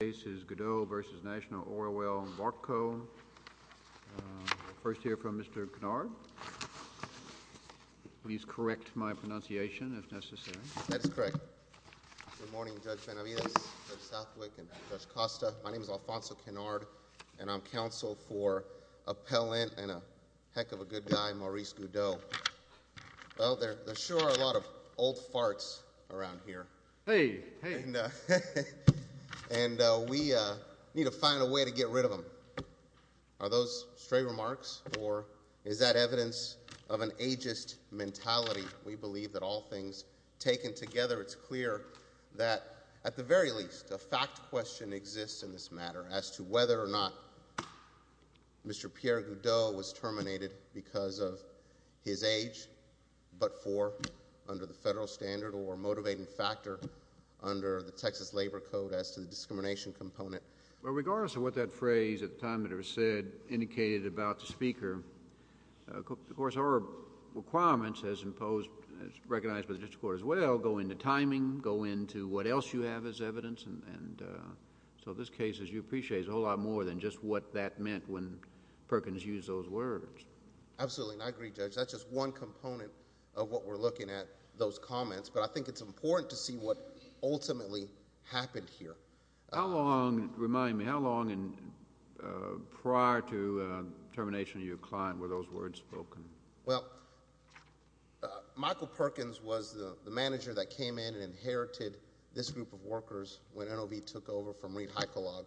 Good morning Judge Benavides, Judge Southwick, and Judge Costa, my name is Alfonso Kennard and I'm counsel for appellant and a heck of a good guy Maurice Goudeau. Well, there sure are a lot of old farts around here and we need to find a way to get rid of them, are those stray remarks or is that evidence of an ageist mentality? We believe that all things taken together it's clear that at the very least a fact question exists in this matter as to whether or not Mr. Pierre Goudeau was terminated because of his age but for under the federal standard or a motivating factor under the Texas Labor Code as to the discrimination component. Well, regardless of what that phrase at the time that it was said indicated about the speaker, of course our requirements as imposed, as recognized by the district court as well, go into timing, go into what else you have as evidence and so this case as you appreciate is a whole lot more than just what that meant when Perkins used those words. Absolutely and I agree Judge, that's just one component of what we're looking at, those comments, but I think it's important to see what ultimately happened here. Remind me, how long prior to termination of your client were those words spoken? Well, Michael Perkins was the manager that came in and inherited this group of workers when NOV took over from Reid Heikkilaag.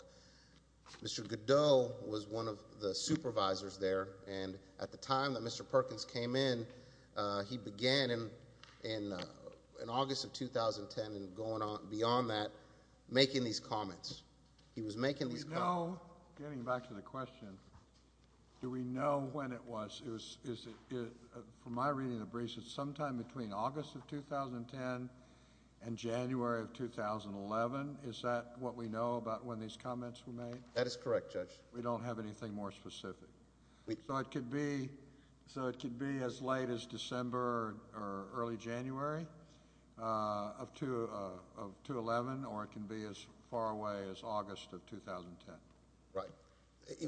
Mr. Goudeau was one of the supervisors there and at the time that Mr. Perkins came in, he began in August of 2010 and beyond that making these comments. Getting back to the question, do we know when it was? From my reading of the briefs, it's sometime between August of 2010 and January of 2011. Is that what we know about when these comments were made? That is correct Judge. We don't have anything more specific. So it could be as late as December or early January of 2011 or it can be as far away as August of 2010. Right.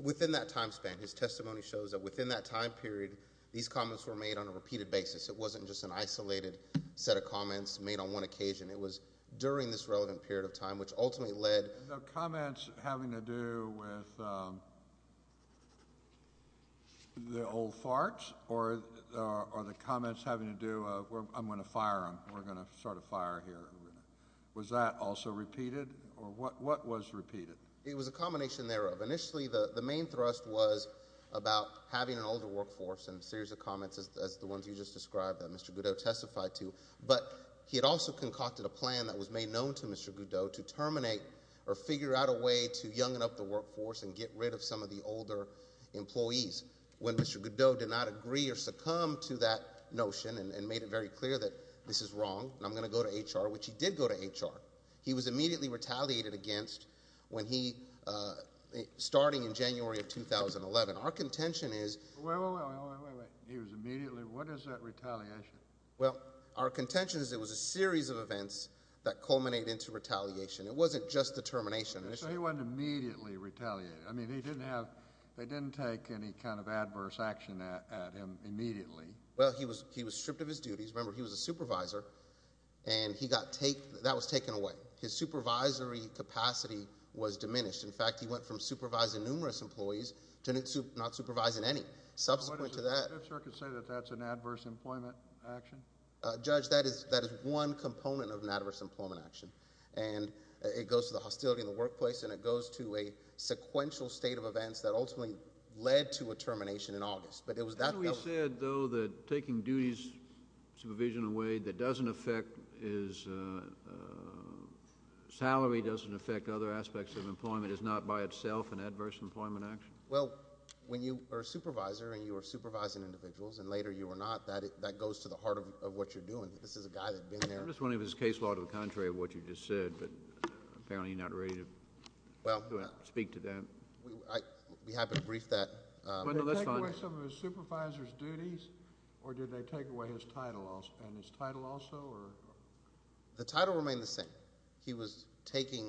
Within that time span, his testimony shows that within that time period, these comments were made on a repeated basis. It wasn't just an isolated set of comments made on one occasion. It was during this relevant period of time which ultimately led... Are the comments having to do with the old farts or are the comments having to do with I'm going to fire him. We're going to start a fire here. Was that also repeated or what was repeated? It was a combination thereof. Initially, the main thrust was about having an older workforce and a series of comments as the ones you just described that Mr. Goudeau testified to. But, he had also concocted a plan that was made known to Mr. Goudeau to terminate or figure out a way to youngen up the workforce and get rid of some of the older employees. When Mr. Goudeau did not agree or succumb to that notion and made it very clear that this is wrong and I'm going to go to HR, which he did go to HR, he was immediately retaliated against when he... starting in January of 2011. Our contention is... Wait, wait, wait. He was immediately... What is that retaliation? Well, our contention is it was a series of events that culminate into retaliation. It wasn't just the termination. So, he wasn't immediately retaliated. I mean, they didn't have... they didn't take any kind of adverse action at him immediately. Well, he was stripped of his duties. Remember, he was a supervisor and he got... that was taken away. His supervisory capacity was diminished. In fact, he went from supervising numerous employees to not supervising any. Subsequent to that... Judge, that is one component of an adverse employment action. And it goes to the hostility in the workplace and it goes to a sequential state of events that ultimately led to a termination in August. But it was that... Hadn't we said, though, that taking duties, supervision away, that doesn't affect his salary, doesn't affect other aspects of employment, is not by itself an adverse employment action? Well, when you are a supervisor and you are supervising individuals and later you are not, that goes to the heart of what you're doing. This is a guy that's been there... I'm just wondering if it's case law to the contrary of what you just said, but apparently you're not ready to speak to that. We haven't briefed that... Did they take away some of his supervisor's duties or did they take away his title and his title also? The title remained the same. He still had the same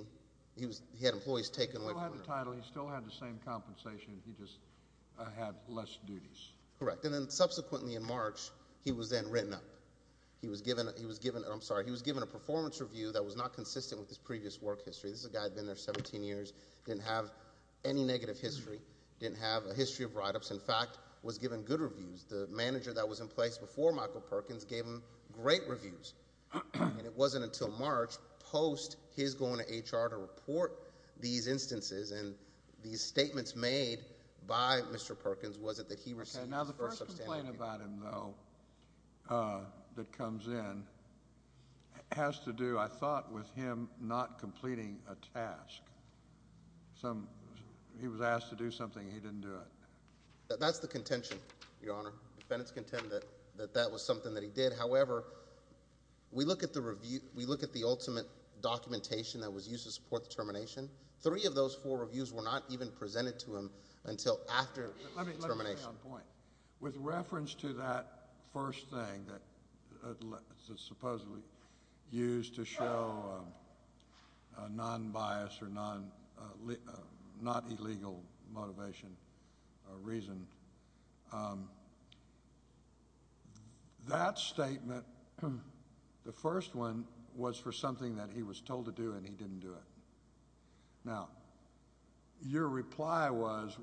title. He still had the same compensation. He just had less duties. Correct. And then subsequently in March, he was then written up. He was given a performance review that was not consistent with his previous work history. This is a guy that had been there 17 years, didn't have any negative history, didn't have a history of write-ups. In fact, was given good reviews. The manager that was in place before Michael Perkins gave him great reviews. It wasn't until March, post his going to HR to report these instances and these statements made by Mr. Perkins, was it that he received... Now the first complaint about him, though, that comes in has to do, I thought, with him not completing a task. He was asked to do something and he didn't do it. That's the contention, Your Honor. Defendants contend that that was something that he did. However, we look at the ultimate documentation that was used to support the termination. Three of those four reviews were not even presented to him until after termination. Let me make a point. With reference to that first thing that supposedly used to show non-bias or non-illegal motivation or reason, that statement... The first one was for something that he was told to do and he didn't do it. Now, your reply was,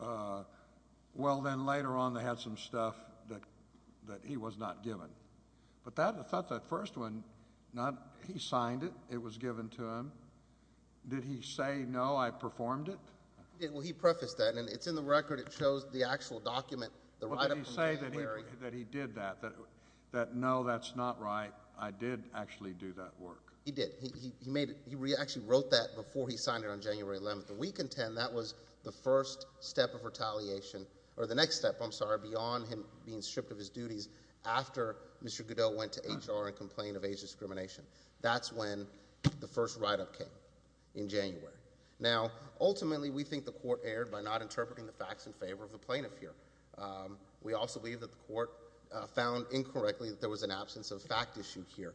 well, then later on they had some stuff that he was not given. But, that first one, he signed it. It was given to him. Did he say, no, I performed it? Well, he prefaced that and it's in the record. It shows the actual document, the write-up... Well, did he say that he did that? That, no, that's not right. I did actually do that work. He did. He actually wrote that before he signed it on January 11th. We contend that was the first step of retaliation, or the next step, I'm sorry, beyond him being stripped of his duties... after Mr. Goodell went to HR and complained of age discrimination. That's when the first write-up came, in January. Now, ultimately, we think the court erred by not interpreting the facts in favor of the plaintiff here. We also believe that the court found incorrectly that there was an absence of fact issued here.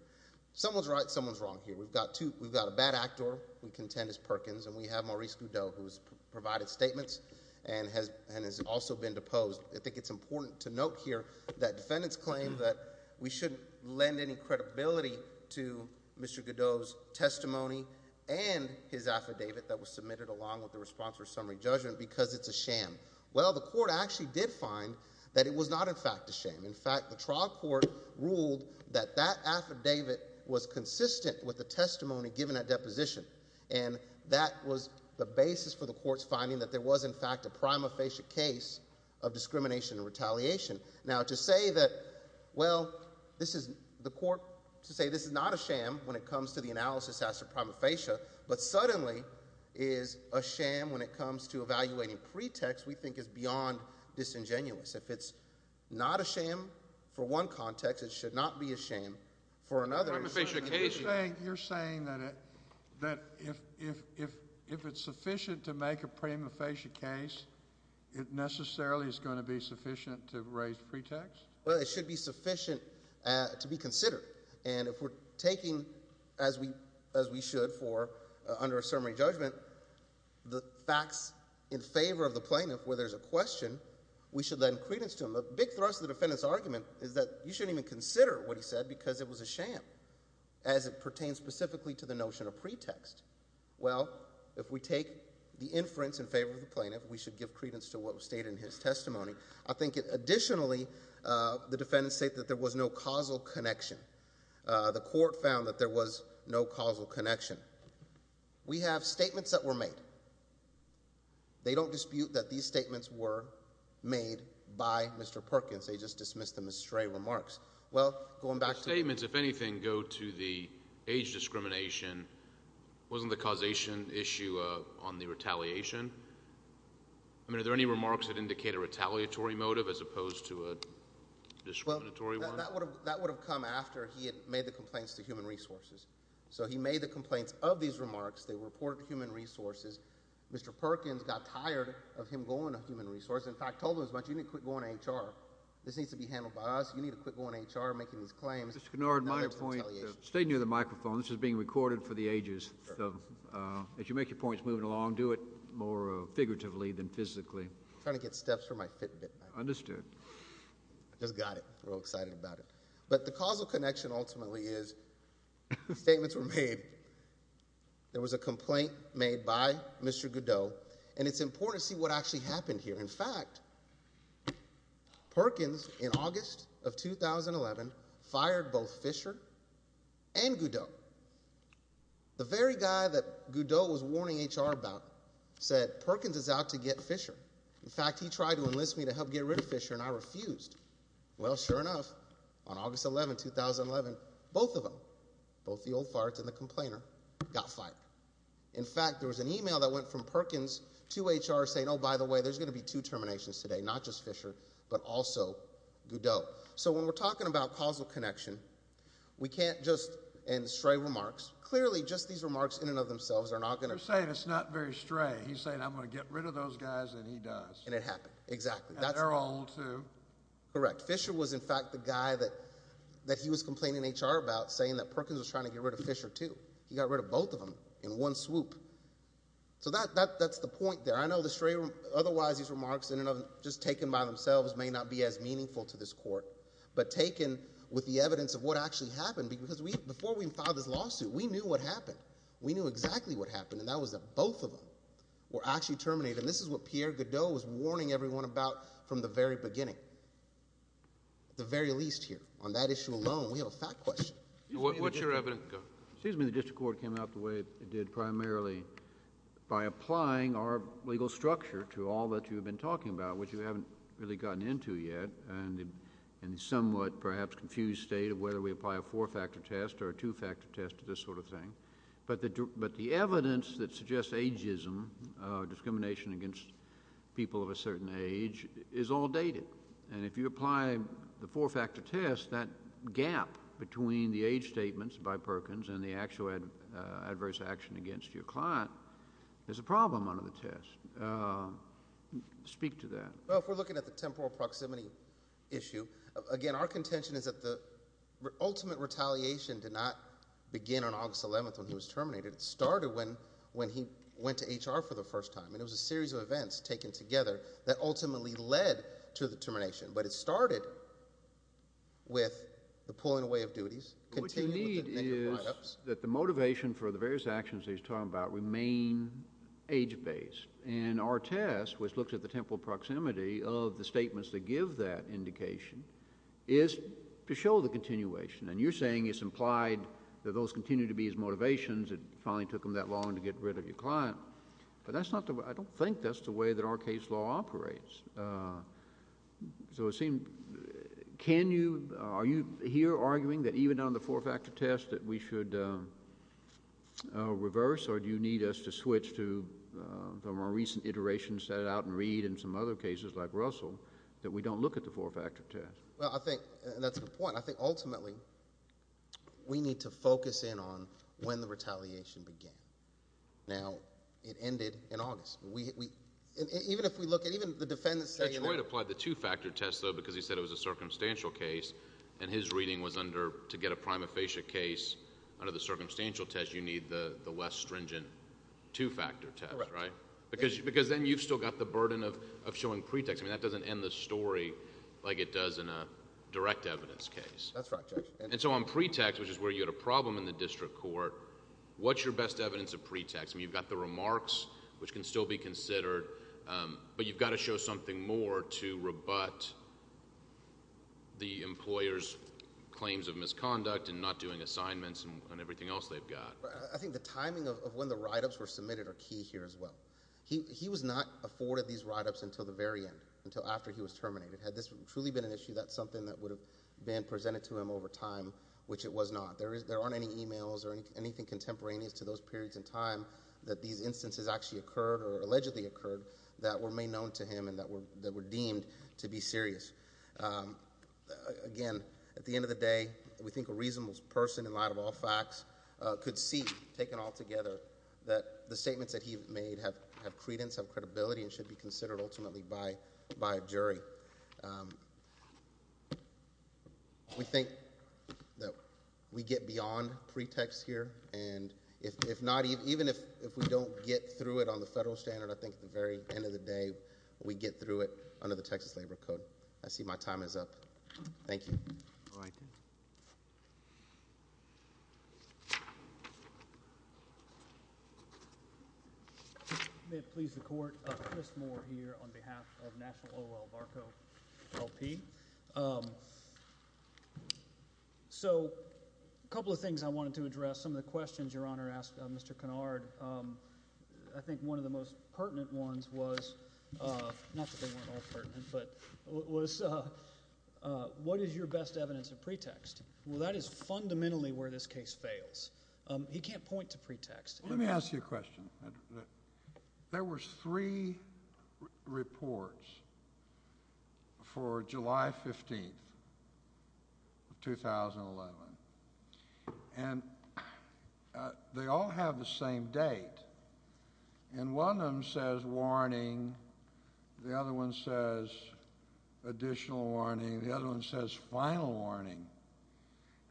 Someone's right, someone's wrong here. We've got two... we've got a bad actor. We contend it's Perkins, and we have Maurice Goodell, who's provided statements and has also been deposed. I think it's important to note here that defendants claim that we shouldn't lend any credibility to Mr. Goodell's testimony... and his affidavit that was submitted along with the response for summary judgment, because it's a sham. Well, the court actually did find that it was not, in fact, a sham. In fact, the trial court ruled that that affidavit was consistent with the testimony given at deposition. And, that was the basis for the court's finding that there was, in fact, a prima facie case of discrimination and retaliation. Now, to say that, well, this is... the court... to say this is not a sham when it comes to the analysis as to prima facie... but suddenly is a sham when it comes to evaluating pretext, we think is beyond disingenuous. If it's not a sham for one context, it should not be a sham for another. A prima facie case... You're saying that if it's sufficient to make a prima facie case, it necessarily is going to be sufficient to raise pretext? Well, it should be sufficient to be considered. And, if we're taking, as we should, for... under a ceremony judgment, the facts in favor of the plaintiff, where there's a question, we should lend credence to him. A big thrust of the defendant's argument is that you shouldn't even consider what he said, because it was a sham, as it pertains specifically to the notion of pretext. Well, if we take the inference in favor of the plaintiff, we should give credence to what was stated in his testimony. I think, additionally, the defendants state that there was no causal connection. The court found that there was no causal connection. We have statements that were made. They don't dispute that these statements were made by Mr. Perkins. They just dismiss them as stray remarks. Well, going back to... The statements, if anything, go to the age discrimination. Wasn't the causation issue on the retaliation? I mean, are there any remarks that indicate a retaliatory motive, as opposed to a discriminatory one? Well, that would have come after he had made the complaints to Human Resources. So, he made the complaints of these remarks. They were reported to Human Resources. Mr. Perkins got tired of him going to Human Resources. In fact, told him as much, you need to quit going to HR. This needs to be handled by us. You need to quit going to HR and making these claims. Mr. Kennard, my point... Stay near the microphone. This is being recorded for the ages. If you make your points moving along, do it more figuratively than physically. I'm trying to get steps for my Fitbit. Understood. I just got it. I'm real excited about it. But, the causal connection, ultimately, is the statements were made. There was a complaint made by Mr. Goudeau, and it's important to see what actually happened here. In fact, Perkins, in August of 2011, fired both Fisher and Goudeau. The very guy that Goudeau was warning HR about said, Perkins is out to get Fisher. In fact, he tried to enlist me to help get rid of Fisher, and I refused. Well, sure enough, on August 11, 2011, both of them, both the old farts and the complainer, got fired. In fact, there was an email that went from Perkins to HR saying, oh, by the way, there's going to be two terminations today. Not just Fisher, but also Goudeau. So, when we're talking about causal connection, we can't just, in stray remarks, clearly just these remarks in and of themselves are not going to You're saying it's not very stray. He's saying I'm going to get rid of those guys, and he does. And it happened. Exactly. And they're old, too. Correct. Fisher was, in fact, the guy that he was complaining to HR about, saying that Perkins was trying to get rid of Fisher, too. He got rid of both of them in one swoop. So, that's the point there. I know the stray, otherwise, these remarks in and of them, just taken by themselves, may not be as meaningful to this court. But taken with the evidence of what actually happened, because before we even filed this lawsuit, we knew what happened. We knew exactly what happened, and that was that both of them were actually terminated. And this is what Pierre Goudeau was warning everyone about from the very beginning, at the very least here. On that issue alone, we have a fact question. What's your evidence? Excuse me. The district court came out the way it did primarily by applying our legal structure to all that you've been talking about, which you haven't really gotten into yet, and the somewhat, perhaps, confused state of whether we apply a four-factor test or a two-factor test to this sort of thing. But the evidence that suggests ageism, discrimination against people of a certain age, is all dated. And if you apply the four-factor test, that gap between the age statements by Perkins and the actual adverse action against your client is a problem under the test. Speak to that. Well, if we're looking at the temporal proximity issue, again, our contention is that the ultimate retaliation did not begin on August 11th when he was terminated. It started when he went to HR for the first time, and it was a series of events taken together that ultimately led to the termination. But it started with the pulling away of duties. What you need is that the motivation for the various actions that he's talking about remain age-based. And our test, which looks at the temporal proximity of the statements that give that indication, is to show the continuation. And you're saying it's implied that those continue to be his motivations. It finally took him that long to get rid of your client. But that's not the way—I don't think that's the way that our case law operates. So it seems—can you—are you here arguing that even on the four-factor test that we should reverse, or do you need us to switch to, from our recent iteration, set it out and read in some other cases like Russell, that we don't look at the four-factor test? Well, I think—and that's the point. I think, ultimately, we need to focus in on when the retaliation began. Now, it ended in August. Even if we look at—even the defendants say— Detroit applied the two-factor test, though, because he said it was a circumstantial case, and his reading was under—to get a prima facie case under the circumstantial test, you need the less stringent two-factor test, right? Correct. Because then you've still got the burden of showing pretext. I mean, that doesn't end the story like it does in a direct evidence case. That's right, Judge. And so on pretext, which is where you had a problem in the district court, what's your best evidence of pretext? I mean, you've got the remarks, which can still be considered, but you've got to show something more to rebut the employer's claims of misconduct and not doing assignments and everything else they've got. I think the timing of when the write-ups were submitted are key here as well. He was not afforded these write-ups until the very end, until after he was terminated. Had this truly been an issue, that's something that would have been presented to him over time, which it was not. There aren't any e-mails or anything contemporaneous to those periods in time that these instances actually occurred or allegedly occurred that were made known to him and that were deemed to be serious. Again, at the end of the day, we think a reasonable person, in light of all facts, could see, taken all together, that the statements that he made have credence, have credibility, and should be considered ultimately by a jury. We think that we get beyond pretext here, and even if we don't get through it on the federal standard, I think at the very end of the day we get through it under the Texas Labor Code. I see my time is up. Thank you. All right. May it please the Court, Chris Moore here on behalf of National O.L. Barco, L.P. So a couple of things I wanted to address. Some of the questions Your Honor asked Mr. Kennard, I think one of the most pertinent ones was, not that they weren't all pertinent, but was what is your best evidence of pretext? Well, that is fundamentally where this case fails. He can't point to pretext. Let me ask you a question. There were three reports for July 15, 2011, and they all have the same date, and one of them says warning, the other one says additional warning, the other one says final warning,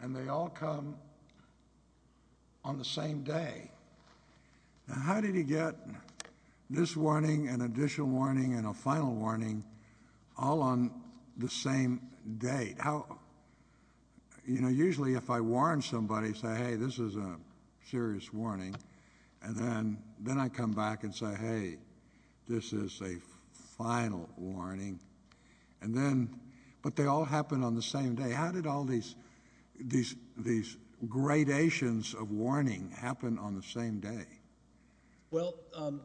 and they all come on the same day. Now how did he get this warning, an additional warning, and a final warning all on the same date? You know, usually if I warn somebody, say, hey, this is a serious warning, and then I come back and say, hey, this is a final warning, but they all happen on the same day. How did all these gradations of warning happen on the same day? Well,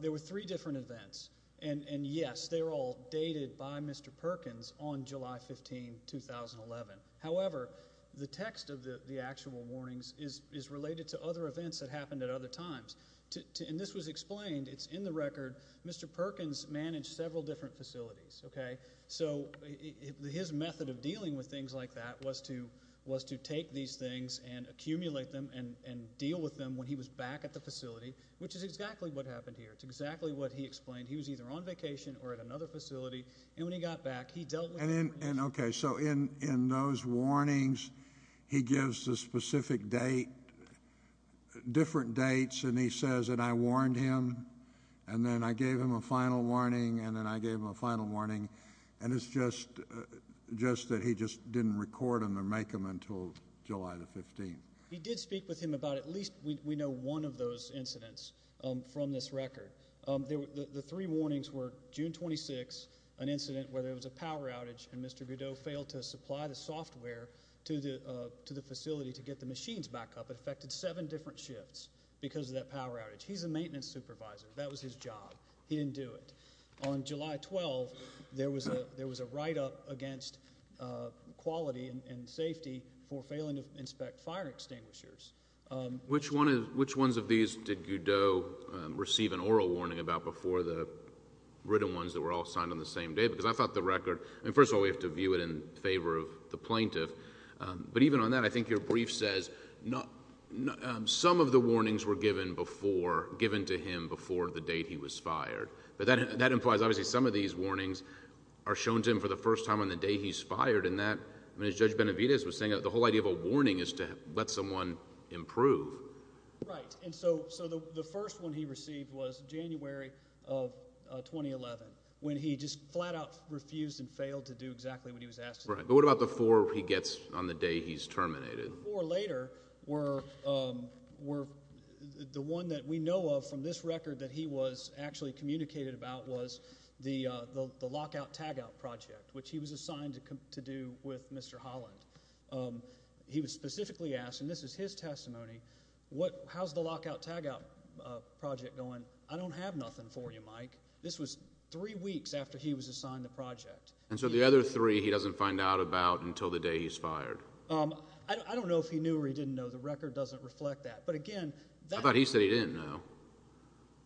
there were three different events, and, yes, they were all dated by Mr. Perkins on July 15, 2011. However, the text of the actual warnings is related to other events that happened at other times, and this was explained. It's in the record. Mr. Perkins managed several different facilities, okay, so his method of dealing with things like that was to take these things and accumulate them and deal with them when he was back at the facility, which is exactly what happened here. It's exactly what he explained. He was either on vacation or at another facility, and when he got back, he dealt with the warnings. And, okay, so in those warnings, he gives the specific date, different dates, and he says that I warned him, and then I gave him a final warning, and then I gave him a final warning, and it's just that he just didn't record them or make them until July the 15th. He did speak with him about at least, we know, one of those incidents from this record. The three warnings were June 26, an incident where there was a power outage, and Mr. Goudeau failed to supply the software to the facility to get the machines back up. It affected seven different shifts because of that power outage. He's a maintenance supervisor. That was his job. He didn't do it. On July 12, there was a write-up against quality and safety for failing to inspect fire extinguishers. Which ones of these did Goudeau receive an oral warning about before the written ones that were all signed on the same day? Because I thought the record, and first of all, we have to view it in favor of the plaintiff, but even on that, I think your brief says some of the warnings were given to him before the date he was fired. But that implies, obviously, some of these warnings are shown to him for the first time on the day he's fired, and that, I mean, as Judge Benavidez was saying, the whole idea of a warning is to let someone improve. Right, and so the first one he received was January of 2011, when he just flat-out refused and failed to do exactly what he was asked to do. Right, but what about the four he gets on the day he's terminated? The four later were the one that we know of from this record that he was actually communicated about was the lockout-tagout project, which he was assigned to do with Mr. Holland. He was specifically asked, and this is his testimony, how's the lockout-tagout project going? I don't have nothing for you, Mike. This was three weeks after he was assigned the project. And so the other three he doesn't find out about until the day he's fired? I don't know if he knew or he didn't know. The record doesn't reflect that. I thought he said he didn't know.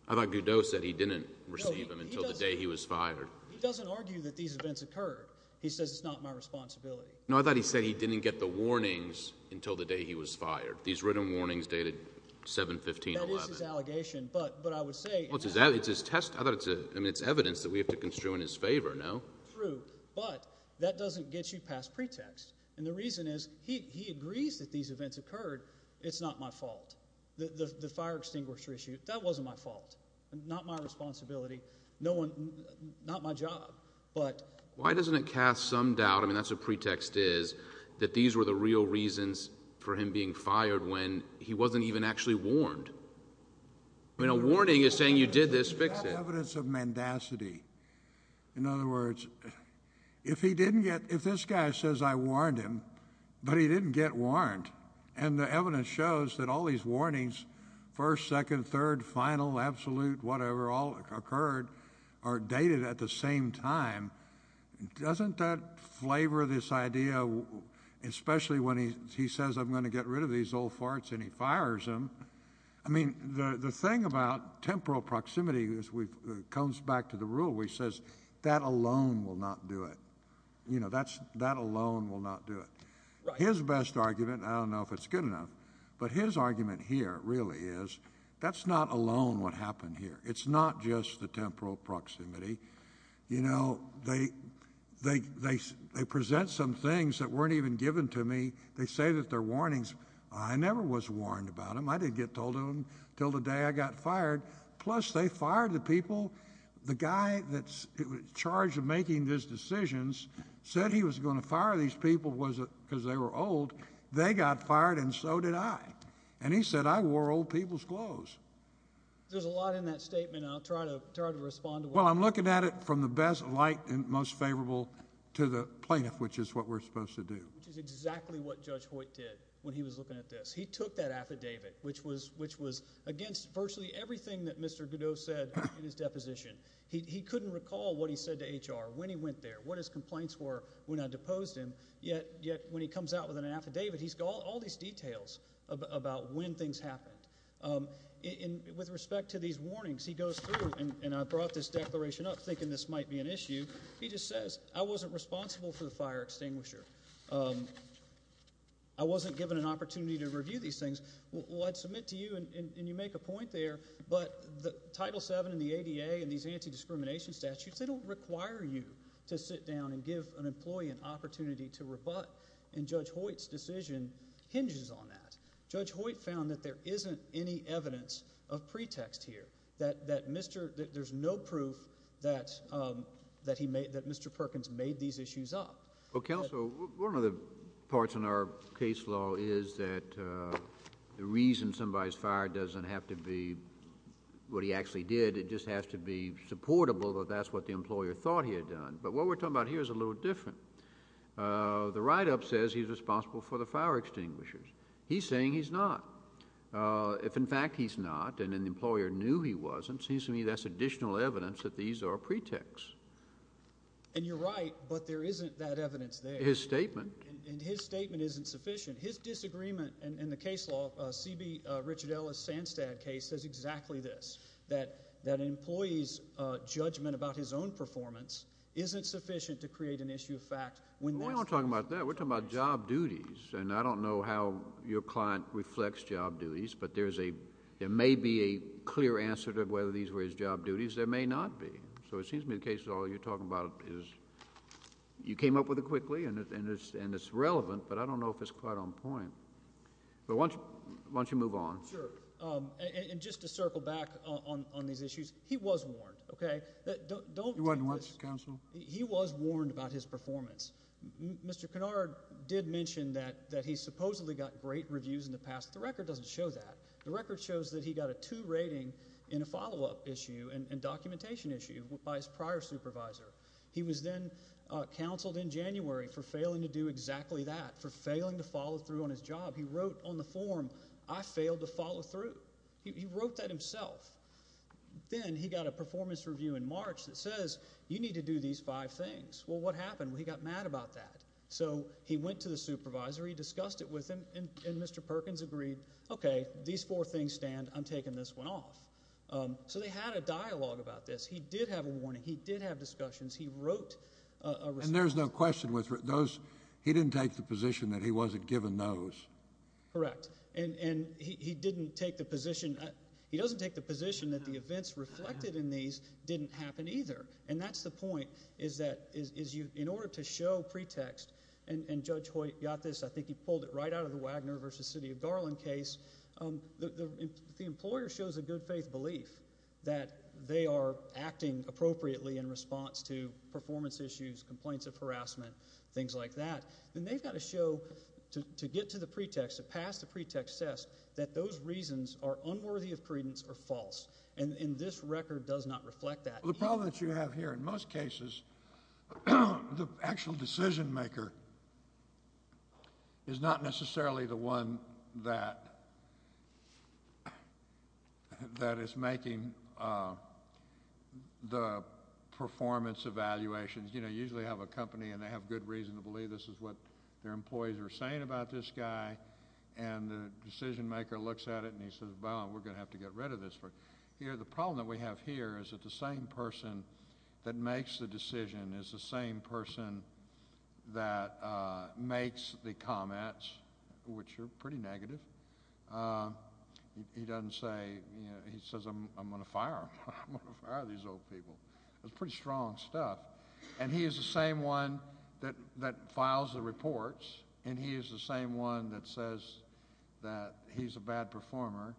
I thought Goudeau said he didn't receive them until the day he was fired. He doesn't argue that these events occurred. He says it's not my responsibility. No, I thought he said he didn't get the warnings until the day he was fired. These written warnings dated 7-15-11. That is his allegation, but I would say— Well, it's his test. I mean, it's evidence that we have to construe in his favor, no? True, but that doesn't get you past pretext. And the reason is he agrees that these events occurred. It's not my fault. The fire extinguisher issue, that wasn't my fault. Not my responsibility. Not my job. Why doesn't it cast some doubt—I mean, that's what pretext is— that these were the real reasons for him being fired when he wasn't even actually warned? I mean, a warning is saying you did this, fix it. That's evidence of mendacity. In other words, if he didn't get— if this guy says I warned him, but he didn't get warned, and the evidence shows that all these warnings, first, second, third, final, absolute, whatever, all occurred, are dated at the same time, doesn't that flavor this idea, especially when he says I'm going to get rid of these old farts and he fires them? I mean, the thing about temporal proximity is we've— it comes back to the rule where he says that alone will not do it. You know, that alone will not do it. His best argument, and I don't know if it's good enough, but his argument here really is that's not alone what happened here. It's not just the temporal proximity. You know, they present some things that weren't even given to me. They say that they're warnings. I never was warned about them. I didn't get told of them until the day I got fired. Plus, they fired the people. The guy that's in charge of making these decisions said he was going to fire these people because they were old. They got fired, and so did I. And he said I wore old people's clothes. There's a lot in that statement, and I'll try to respond to what— Well, I'm looking at it from the best light and most favorable to the plaintiff, which is what we're supposed to do. Which is exactly what Judge Hoyt did when he was looking at this. He took that affidavit, which was against virtually everything that Mr. Godot said in his deposition. He couldn't recall what he said to HR, when he went there, what his complaints were when I deposed him, yet when he comes out with an affidavit, he's got all these details about when things happened. With respect to these warnings, he goes through, and I brought this declaration up thinking this might be an issue. He just says I wasn't responsible for the fire extinguisher. I wasn't given an opportunity to review these things. Well, I'd submit to you, and you make a point there, but Title VII and the ADA and these anti-discrimination statutes, they don't require you to sit down and give an employee an opportunity to rebut, and Judge Hoyt's decision hinges on that. Judge Hoyt found that there isn't any evidence of pretext here, that there's no proof that Mr. Perkins made these issues up. Well, counsel, one of the parts in our case law is that the reason somebody's fired doesn't have to be what he actually did. It just has to be supportable that that's what the employer thought he had done. But what we're talking about here is a little different. The write-up says he's responsible for the fire extinguishers. He's saying he's not. If, in fact, he's not and an employer knew he wasn't, it seems to me that's additional evidence that these are pretexts. And you're right, but there isn't that evidence there. His statement. And his statement isn't sufficient. His disagreement in the case law, C.B. Richard Ellis' Sanstad case, says exactly this, that an employee's judgment about his own performance isn't sufficient to create an issue of fact. We're not talking about that. We're talking about job duties, and I don't know how your client reflects job duties, but there may be a clear answer to whether these were his job duties. There may not be. So it seems to me the case law you're talking about is you came up with it quickly and it's relevant, but I don't know if it's quite on point. But why don't you move on? Sure. And just to circle back on these issues, he was warned, okay? You weren't warned, counsel? He was warned about his performance. Mr. Kennard did mention that he supposedly got great reviews in the past. The record doesn't show that. The record shows that he got a 2 rating in a follow-up issue and documentation issue by his prior supervisor. He was then counseled in January for failing to do exactly that, for failing to follow through on his job. He wrote on the form, I failed to follow through. He wrote that himself. Then he got a performance review in March that says you need to do these five things. Well, what happened? He got mad about that. So he went to the supervisor. He discussed it with him, and Mr. Perkins agreed, okay, these four things stand. I'm taking this one off. So they had a dialogue about this. He did have a warning. He did have discussions. He wrote a response. And there's no question with those. He didn't take the position that he wasn't given those. Correct. And he didn't take the position. He doesn't take the position that the events reflected in these didn't happen either. And that's the point is that in order to show pretext, and Judge Hoyt got this, I think he pulled it right out of the Wagner v. City of Garland case, the employer shows a good faith belief that they are acting appropriately in response to performance issues, complaints of harassment, things like that. Then they've got to show to get to the pretext, to pass the pretext test, that those reasons are unworthy of credence or false. And this record does not reflect that. The problem that you have here in most cases, the actual decision maker is not necessarily the one that is making the performance evaluations. You know, you usually have a company, and they have good reason to believe this is what their employees are saying about this guy. And the decision maker looks at it, and he says, well, we're going to have to get rid of this. Here, the problem that we have here is that the same person that makes the decision is the same person that makes the comments, which are pretty negative. He doesn't say, you know, he says, I'm going to fire him. I'm going to fire these old people. It's pretty strong stuff. And he is the same one that files the reports, and he is the same one that says that he's a bad performer.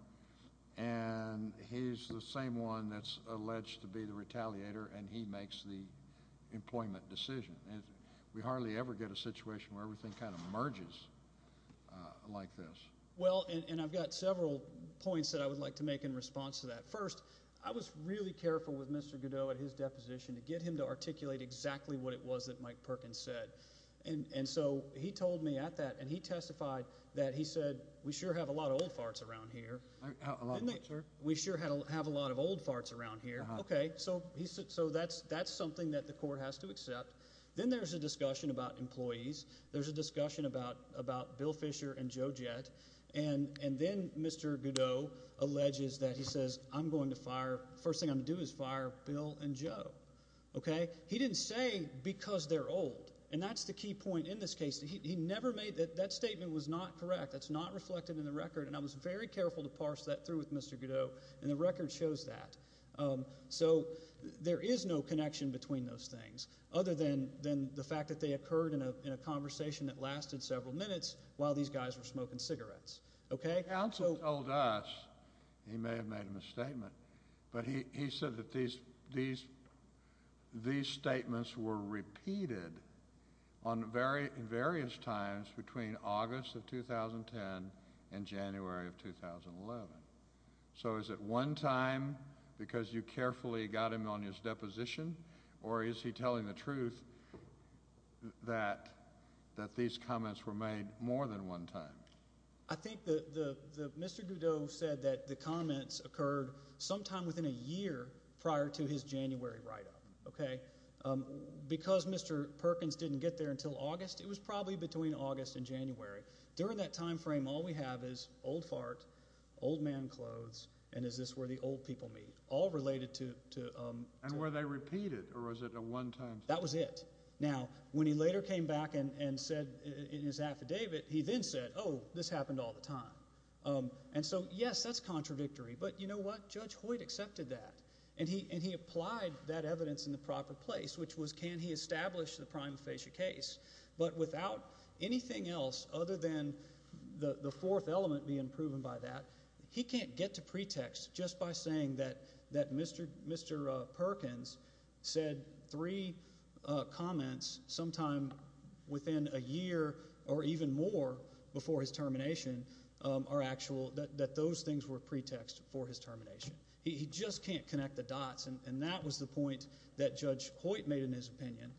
And he's the same one that's alleged to be the retaliator, and he makes the employment decision. We hardly ever get a situation where everything kind of merges like this. Well, and I've got several points that I would like to make in response to that. First, I was really careful with Mr. Godot at his deposition to get him to articulate exactly what it was that Mike Perkins said. And so he told me at that, and he testified that he said, we sure have a lot of old farts around here. Didn't they? We sure have a lot of old farts around here. Okay, so that's something that the court has to accept. Then there's a discussion about employees. There's a discussion about Bill Fisher and Joe Jett. And then Mr. Godot alleges that he says, I'm going to fire – first thing I'm going to do is fire Bill and Joe. Okay? But he didn't say because they're old, and that's the key point in this case. He never made – that statement was not correct. That's not reflected in the record, and I was very careful to parse that through with Mr. Godot, and the record shows that. So there is no connection between those things other than the fact that they occurred in a conversation that lasted several minutes while these guys were smoking cigarettes. Okay? The counsel told us – he may have made a misstatement – but he said that these statements were repeated on various times between August of 2010 and January of 2011. So is it one time because you carefully got him on his deposition, or is he telling the truth that these comments were made more than one time? I think the – Mr. Godot said that the comments occurred sometime within a year prior to his January write-up. Okay? Because Mr. Perkins didn't get there until August, it was probably between August and January. During that timeframe, all we have is old fart, old man clothes, and is this where the old people meet, all related to – And were they repeated, or was it a one-time thing? That was it. Now, when he later came back and said in his affidavit, he then said, oh, this happened all the time. And so, yes, that's contradictory. But you know what? Judge Hoyt accepted that, and he applied that evidence in the proper place, which was can he establish the prima facie case. But without anything else other than the fourth element being proven by that, he can't get to pretext just by saying that Mr. Perkins said three comments sometime within a year or even more before his termination are actual – that those things were pretext for his termination. He just can't connect the dots, and that was the point that Judge Hoyt made in his opinion.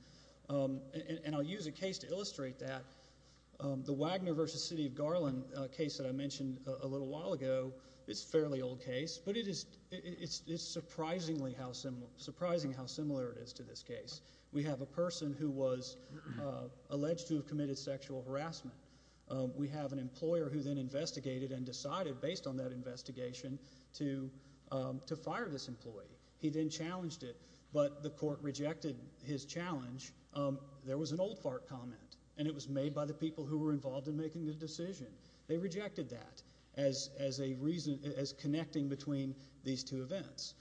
And I'll use a case to illustrate that. The Wagner v. City of Garland case that I mentioned a little while ago is a fairly old case, but it's surprising how similar it is to this case. We have a person who was alleged to have committed sexual harassment. We have an employer who then investigated and decided, based on that investigation, to fire this employee. He then challenged it, but the court rejected his challenge. There was an old FARC comment, and it was made by the people who were involved in making the decision. They rejected that as a reason – as connecting between these two events.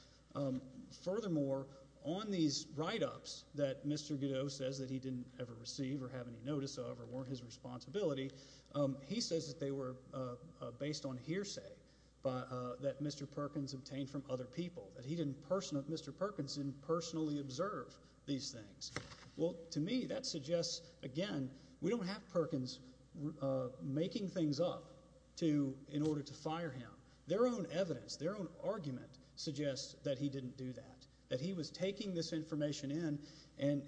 Furthermore, on these write-ups that Mr. Godot says that he didn't ever receive or have any notice of or weren't his responsibility, he says that they were based on hearsay that Mr. Perkins obtained from other people, that he didn't – Mr. Perkins didn't personally observe these things. Well, to me, that suggests, again, we don't have Perkins making things up to – in order to fire him. Their own evidence, their own argument suggests that he didn't do that, that he was taking this information in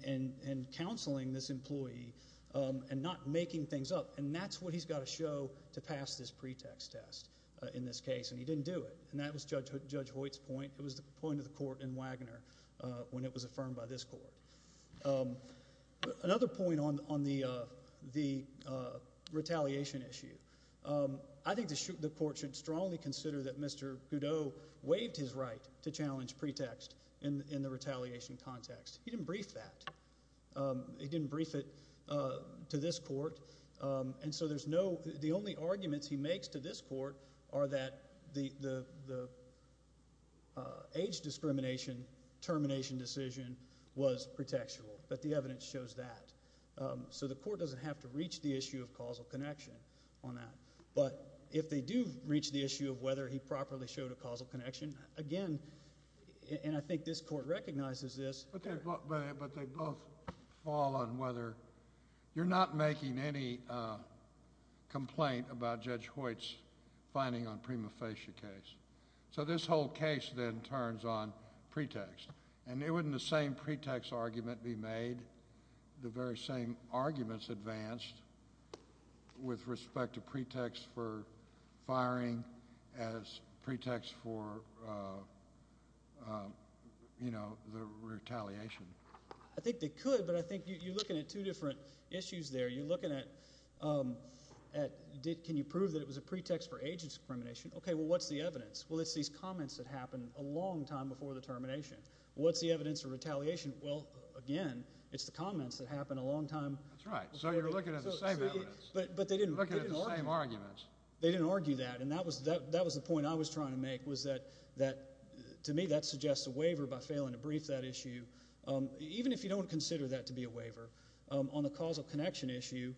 and counseling this employee and not making things up, and that's what he's got to show to pass this pretext test in this case, and he didn't do it, and that was Judge Hoyt's point. It was the point of the court in Wagner when it was affirmed by this court. Another point on the retaliation issue, I think the court should strongly consider that Mr. Godot waived his right to challenge pretext in the retaliation context. He didn't brief that. He didn't brief it to this court, and so there's no – the only arguments he makes to this court are that the age discrimination termination decision was pretextual, but the evidence shows that. So the court doesn't have to reach the issue of causal connection on that, but if they do reach the issue of whether he properly showed a causal connection, again – and I think this court recognizes this. But they both fall on whether – you're not making any complaint about Judge Hoyt's finding on Prima Facie case. So this whole case then turns on pretext, and wouldn't the same pretext argument be made, the very same arguments advanced with respect to pretext for firing as pretext for the retaliation? I think they could, but I think you're looking at two different issues there. You're looking at – can you prove that it was a pretext for age discrimination? Okay. Well, what's the evidence? Well, it's these comments that happened a long time before the termination. What's the evidence of retaliation? Well, again, it's the comments that happened a long time – That's right. So you're looking at the same evidence. But they didn't – Looking at the same arguments. They didn't argue that, and that was the point I was trying to make was that, to me, that suggests a waiver by failing to brief that issue. Even if you don't consider that to be a waiver, on the causal connection issue,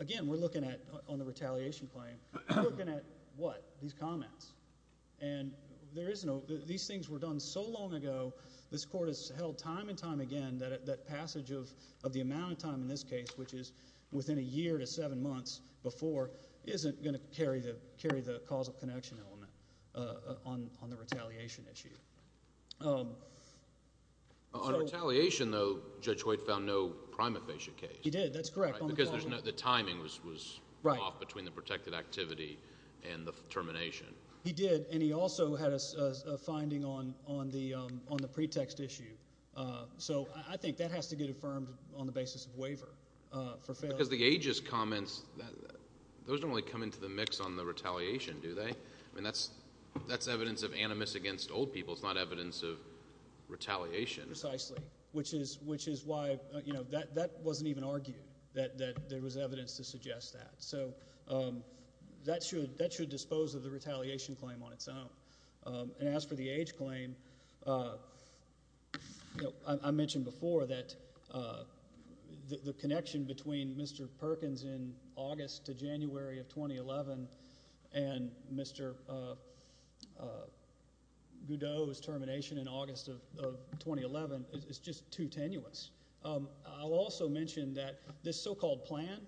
again, we're looking at – on the retaliation claim, we're looking at what? These comments. And there is no – these things were done so long ago. This court has held time and time again that passage of the amount of time in this case, which is within a year to seven months before, isn't going to carry the causal connection element on the retaliation issue. On retaliation, though, Judge White found no prima facie case. He did. That's correct. Because the timing was off between the protected activity and the termination. He did, and he also had a finding on the pretext issue. So I think that has to get affirmed on the basis of waiver for failing. Because the aegis comments, those don't really come into the mix on the retaliation, do they? I mean that's evidence of animus against old people. It's not evidence of retaliation. Precisely, which is why – that wasn't even argued, that there was evidence to suggest that. So that should dispose of the retaliation claim on its own. And as for the age claim, I mentioned before that the connection between Mr. Perkins in August to January of 2011 and Mr. Goudeau's termination in August of 2011 is just too tenuous. I'll also mention that this so-called plan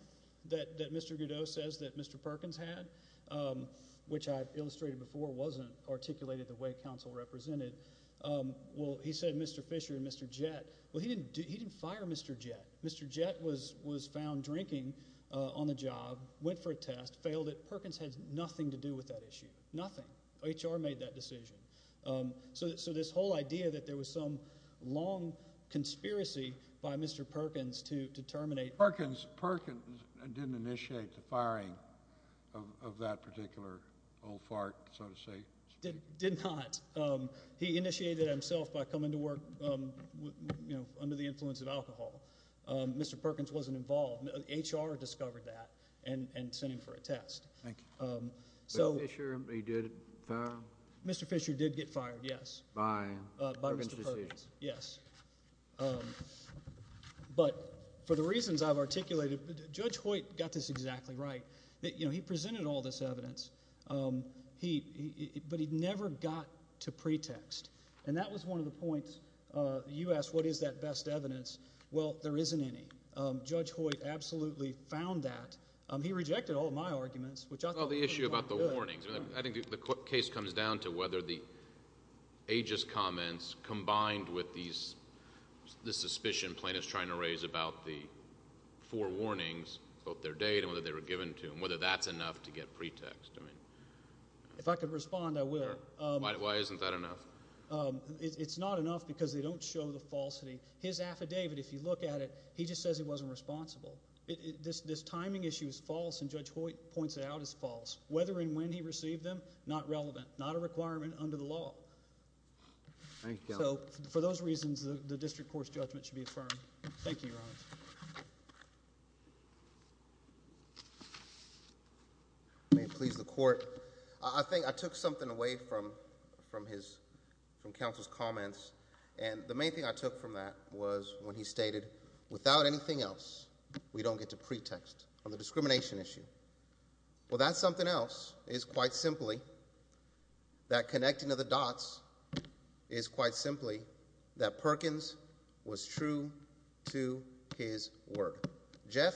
that Mr. Goudeau says that Mr. Perkins had, which I've illustrated before wasn't articulated the way counsel represented. Well, he said Mr. Fisher and Mr. Jett. Well, he didn't fire Mr. Jett. Mr. Jett was found drinking on the job, went for a test, failed it. Perkins had nothing to do with that issue. Nothing. HR made that decision. So this whole idea that there was some long conspiracy by Mr. Perkins to terminate – Perkins didn't initiate the firing of that particular old fart, so to say. Did not. He initiated it himself by coming to work under the influence of alcohol. Mr. Perkins wasn't involved. HR discovered that and sent him for a test. Thank you. But Fisher, he did it – Mr. Fisher did get fired, yes, by Mr. Perkins, yes. But for the reasons I've articulated, Judge Hoyt got this exactly right. He presented all this evidence, but he never got to pretext, and that was one of the points. You asked what is that best evidence. Well, there isn't any. Judge Hoyt absolutely found that. He rejected all of my arguments, which I thought were good. Well, the issue about the warnings. I think the case comes down to whether the aegis comments combined with the suspicion plaintiffs are trying to raise about the four warnings, both their date and whether they were given to them, whether that's enough to get pretext. If I could respond, I will. Why isn't that enough? It's not enough because they don't show the falsity. His affidavit, if you look at it, he just says he wasn't responsible. This timing issue is false, and Judge Hoyt points it out as false. Whether and when he received them, not relevant, not a requirement under the law. Thank you, Your Honor. So for those reasons, the district court's judgment should be affirmed. Thank you, Your Honor. May it please the Court. I think I took something away from counsel's comments, and the main thing I took from that was when he stated, without anything else, we don't get to pretext on the discrimination issue. Well, that's something else. It's quite simply that connecting to the dots is quite simply that Perkins was true to his word. Jeff,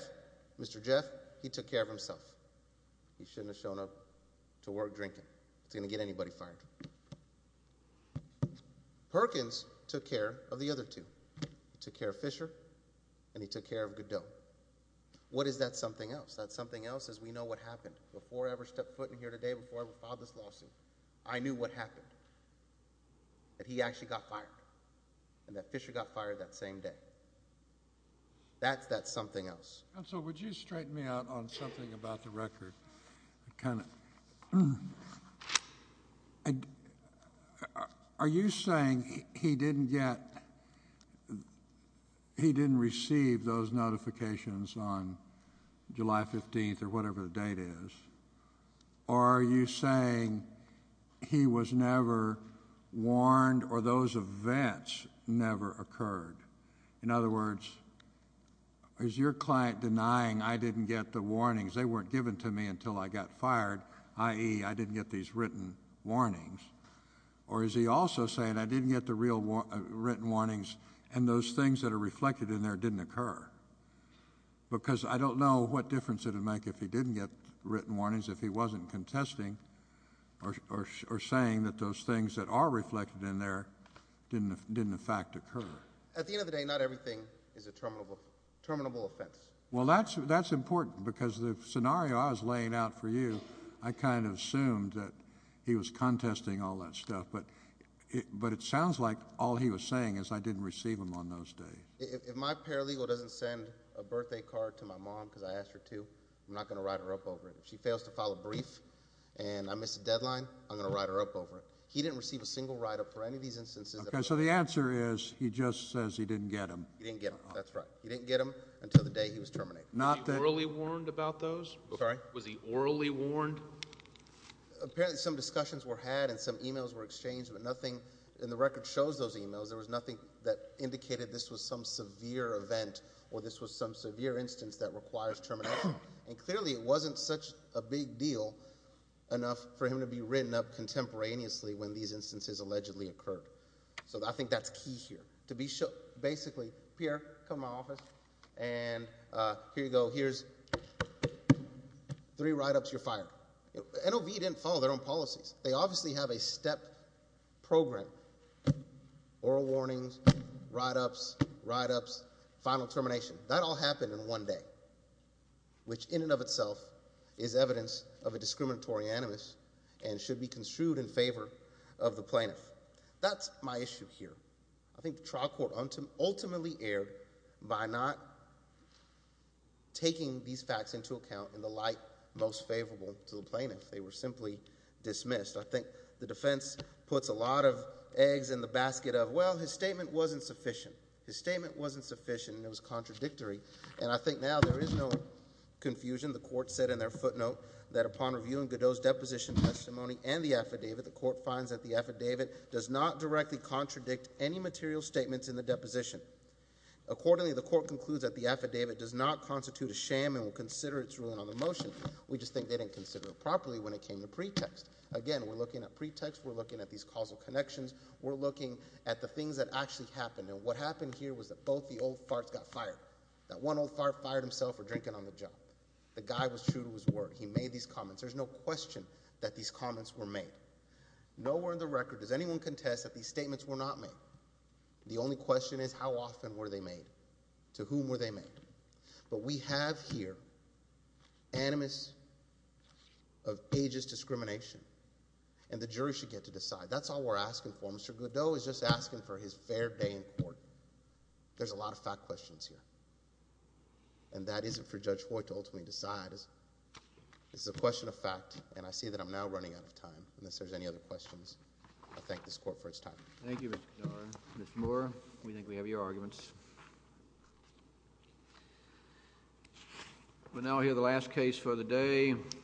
Mr. Jeff, he took care of himself. He shouldn't have shown up to work drinking. He's going to get anybody fired. Perkins took care of the other two. He took care of Fisher, and he took care of Goodell. What is that something else? That's something else is we know what happened. Before I ever stepped foot in here today, before I ever filed this lawsuit, I knew what happened, that he actually got fired, and that Fisher got fired that same day. That's that something else. Counsel, would you straighten me out on something about the record? Kind of. Are you saying he didn't receive those notifications on July 15th or whatever the date is, or are you saying he was never warned or those events never occurred? In other words, is your client denying I didn't get the warnings? They weren't given to me until I got fired, i.e., I didn't get these written warnings. Or is he also saying I didn't get the real written warnings, and those things that are reflected in there didn't occur? Because I don't know what difference it would make if he didn't get written warnings, if he wasn't contesting or saying that those things that are reflected in there didn't in fact occur. At the end of the day, not everything is a terminable offense. Well, that's important because the scenario I was laying out for you, I kind of assumed that he was contesting all that stuff, but it sounds like all he was saying is I didn't receive them on those days. If my paralegal doesn't send a birthday card to my mom because I asked her to, I'm not going to write her up over it. If she fails to file a brief and I miss a deadline, I'm going to write her up over it. He didn't receive a single write-up for any of these instances. Okay, so the answer is he just says he didn't get them. He didn't get them, that's right. He didn't get them until the day he was terminated. Was he orally warned about those? Sorry? Was he orally warned? Apparently some discussions were had and some e-mails were exchanged, but nothing in the record shows those e-mails. There was nothing that indicated this was some severe event or this was some severe instance that requires termination. And clearly it wasn't such a big deal enough for him to be written up contemporaneously when these instances allegedly occurred. So I think that's key here. Basically, Pierre, come to my office, and here you go, here's three write-ups, you're fired. NOV didn't follow their own policies. They obviously have a step program. Oral warnings, write-ups, write-ups, final termination. That all happened in one day, which in and of itself is evidence of a discriminatory animus and should be construed in favor of the plaintiff. That's my issue here. I think the trial court ultimately erred by not taking these facts into account in the light most favorable to the plaintiff. They were simply dismissed. I think the defense puts a lot of eggs in the basket of, well, his statement wasn't sufficient. His statement wasn't sufficient and it was contradictory. And I think now there is no confusion. The court said in their footnote that upon reviewing Godot's deposition testimony and the affidavit, the court finds that the affidavit does not directly contradict any material statements in the deposition. Accordingly, the court concludes that the affidavit does not constitute a sham and will consider its ruling on the motion. We just think they didn't consider it properly when it came to pretext. Again, we're looking at pretext, we're looking at these causal connections, we're looking at the things that actually happened. And what happened here was that both the old farts got fired. That one old fart fired himself for drinking on the job. The guy was true to his word. He made these comments. There's no question that these comments were made. Nowhere in the record does anyone contest that these statements were not made. The only question is how often were they made, to whom were they made. But we have here animus of ageist discrimination, and the jury should get to decide. That's all we're asking for. Mr. Godot is just asking for his fair day in court. There's a lot of fact questions here. And that isn't for Judge White to ultimately decide. This is a question of fact, and I see that I'm now running out of time. Unless there's any other questions, I thank this court for its time. Thank you, Mr. Godot. Mr. Moore, we think we have your arguments. We're now here, the last case for the day.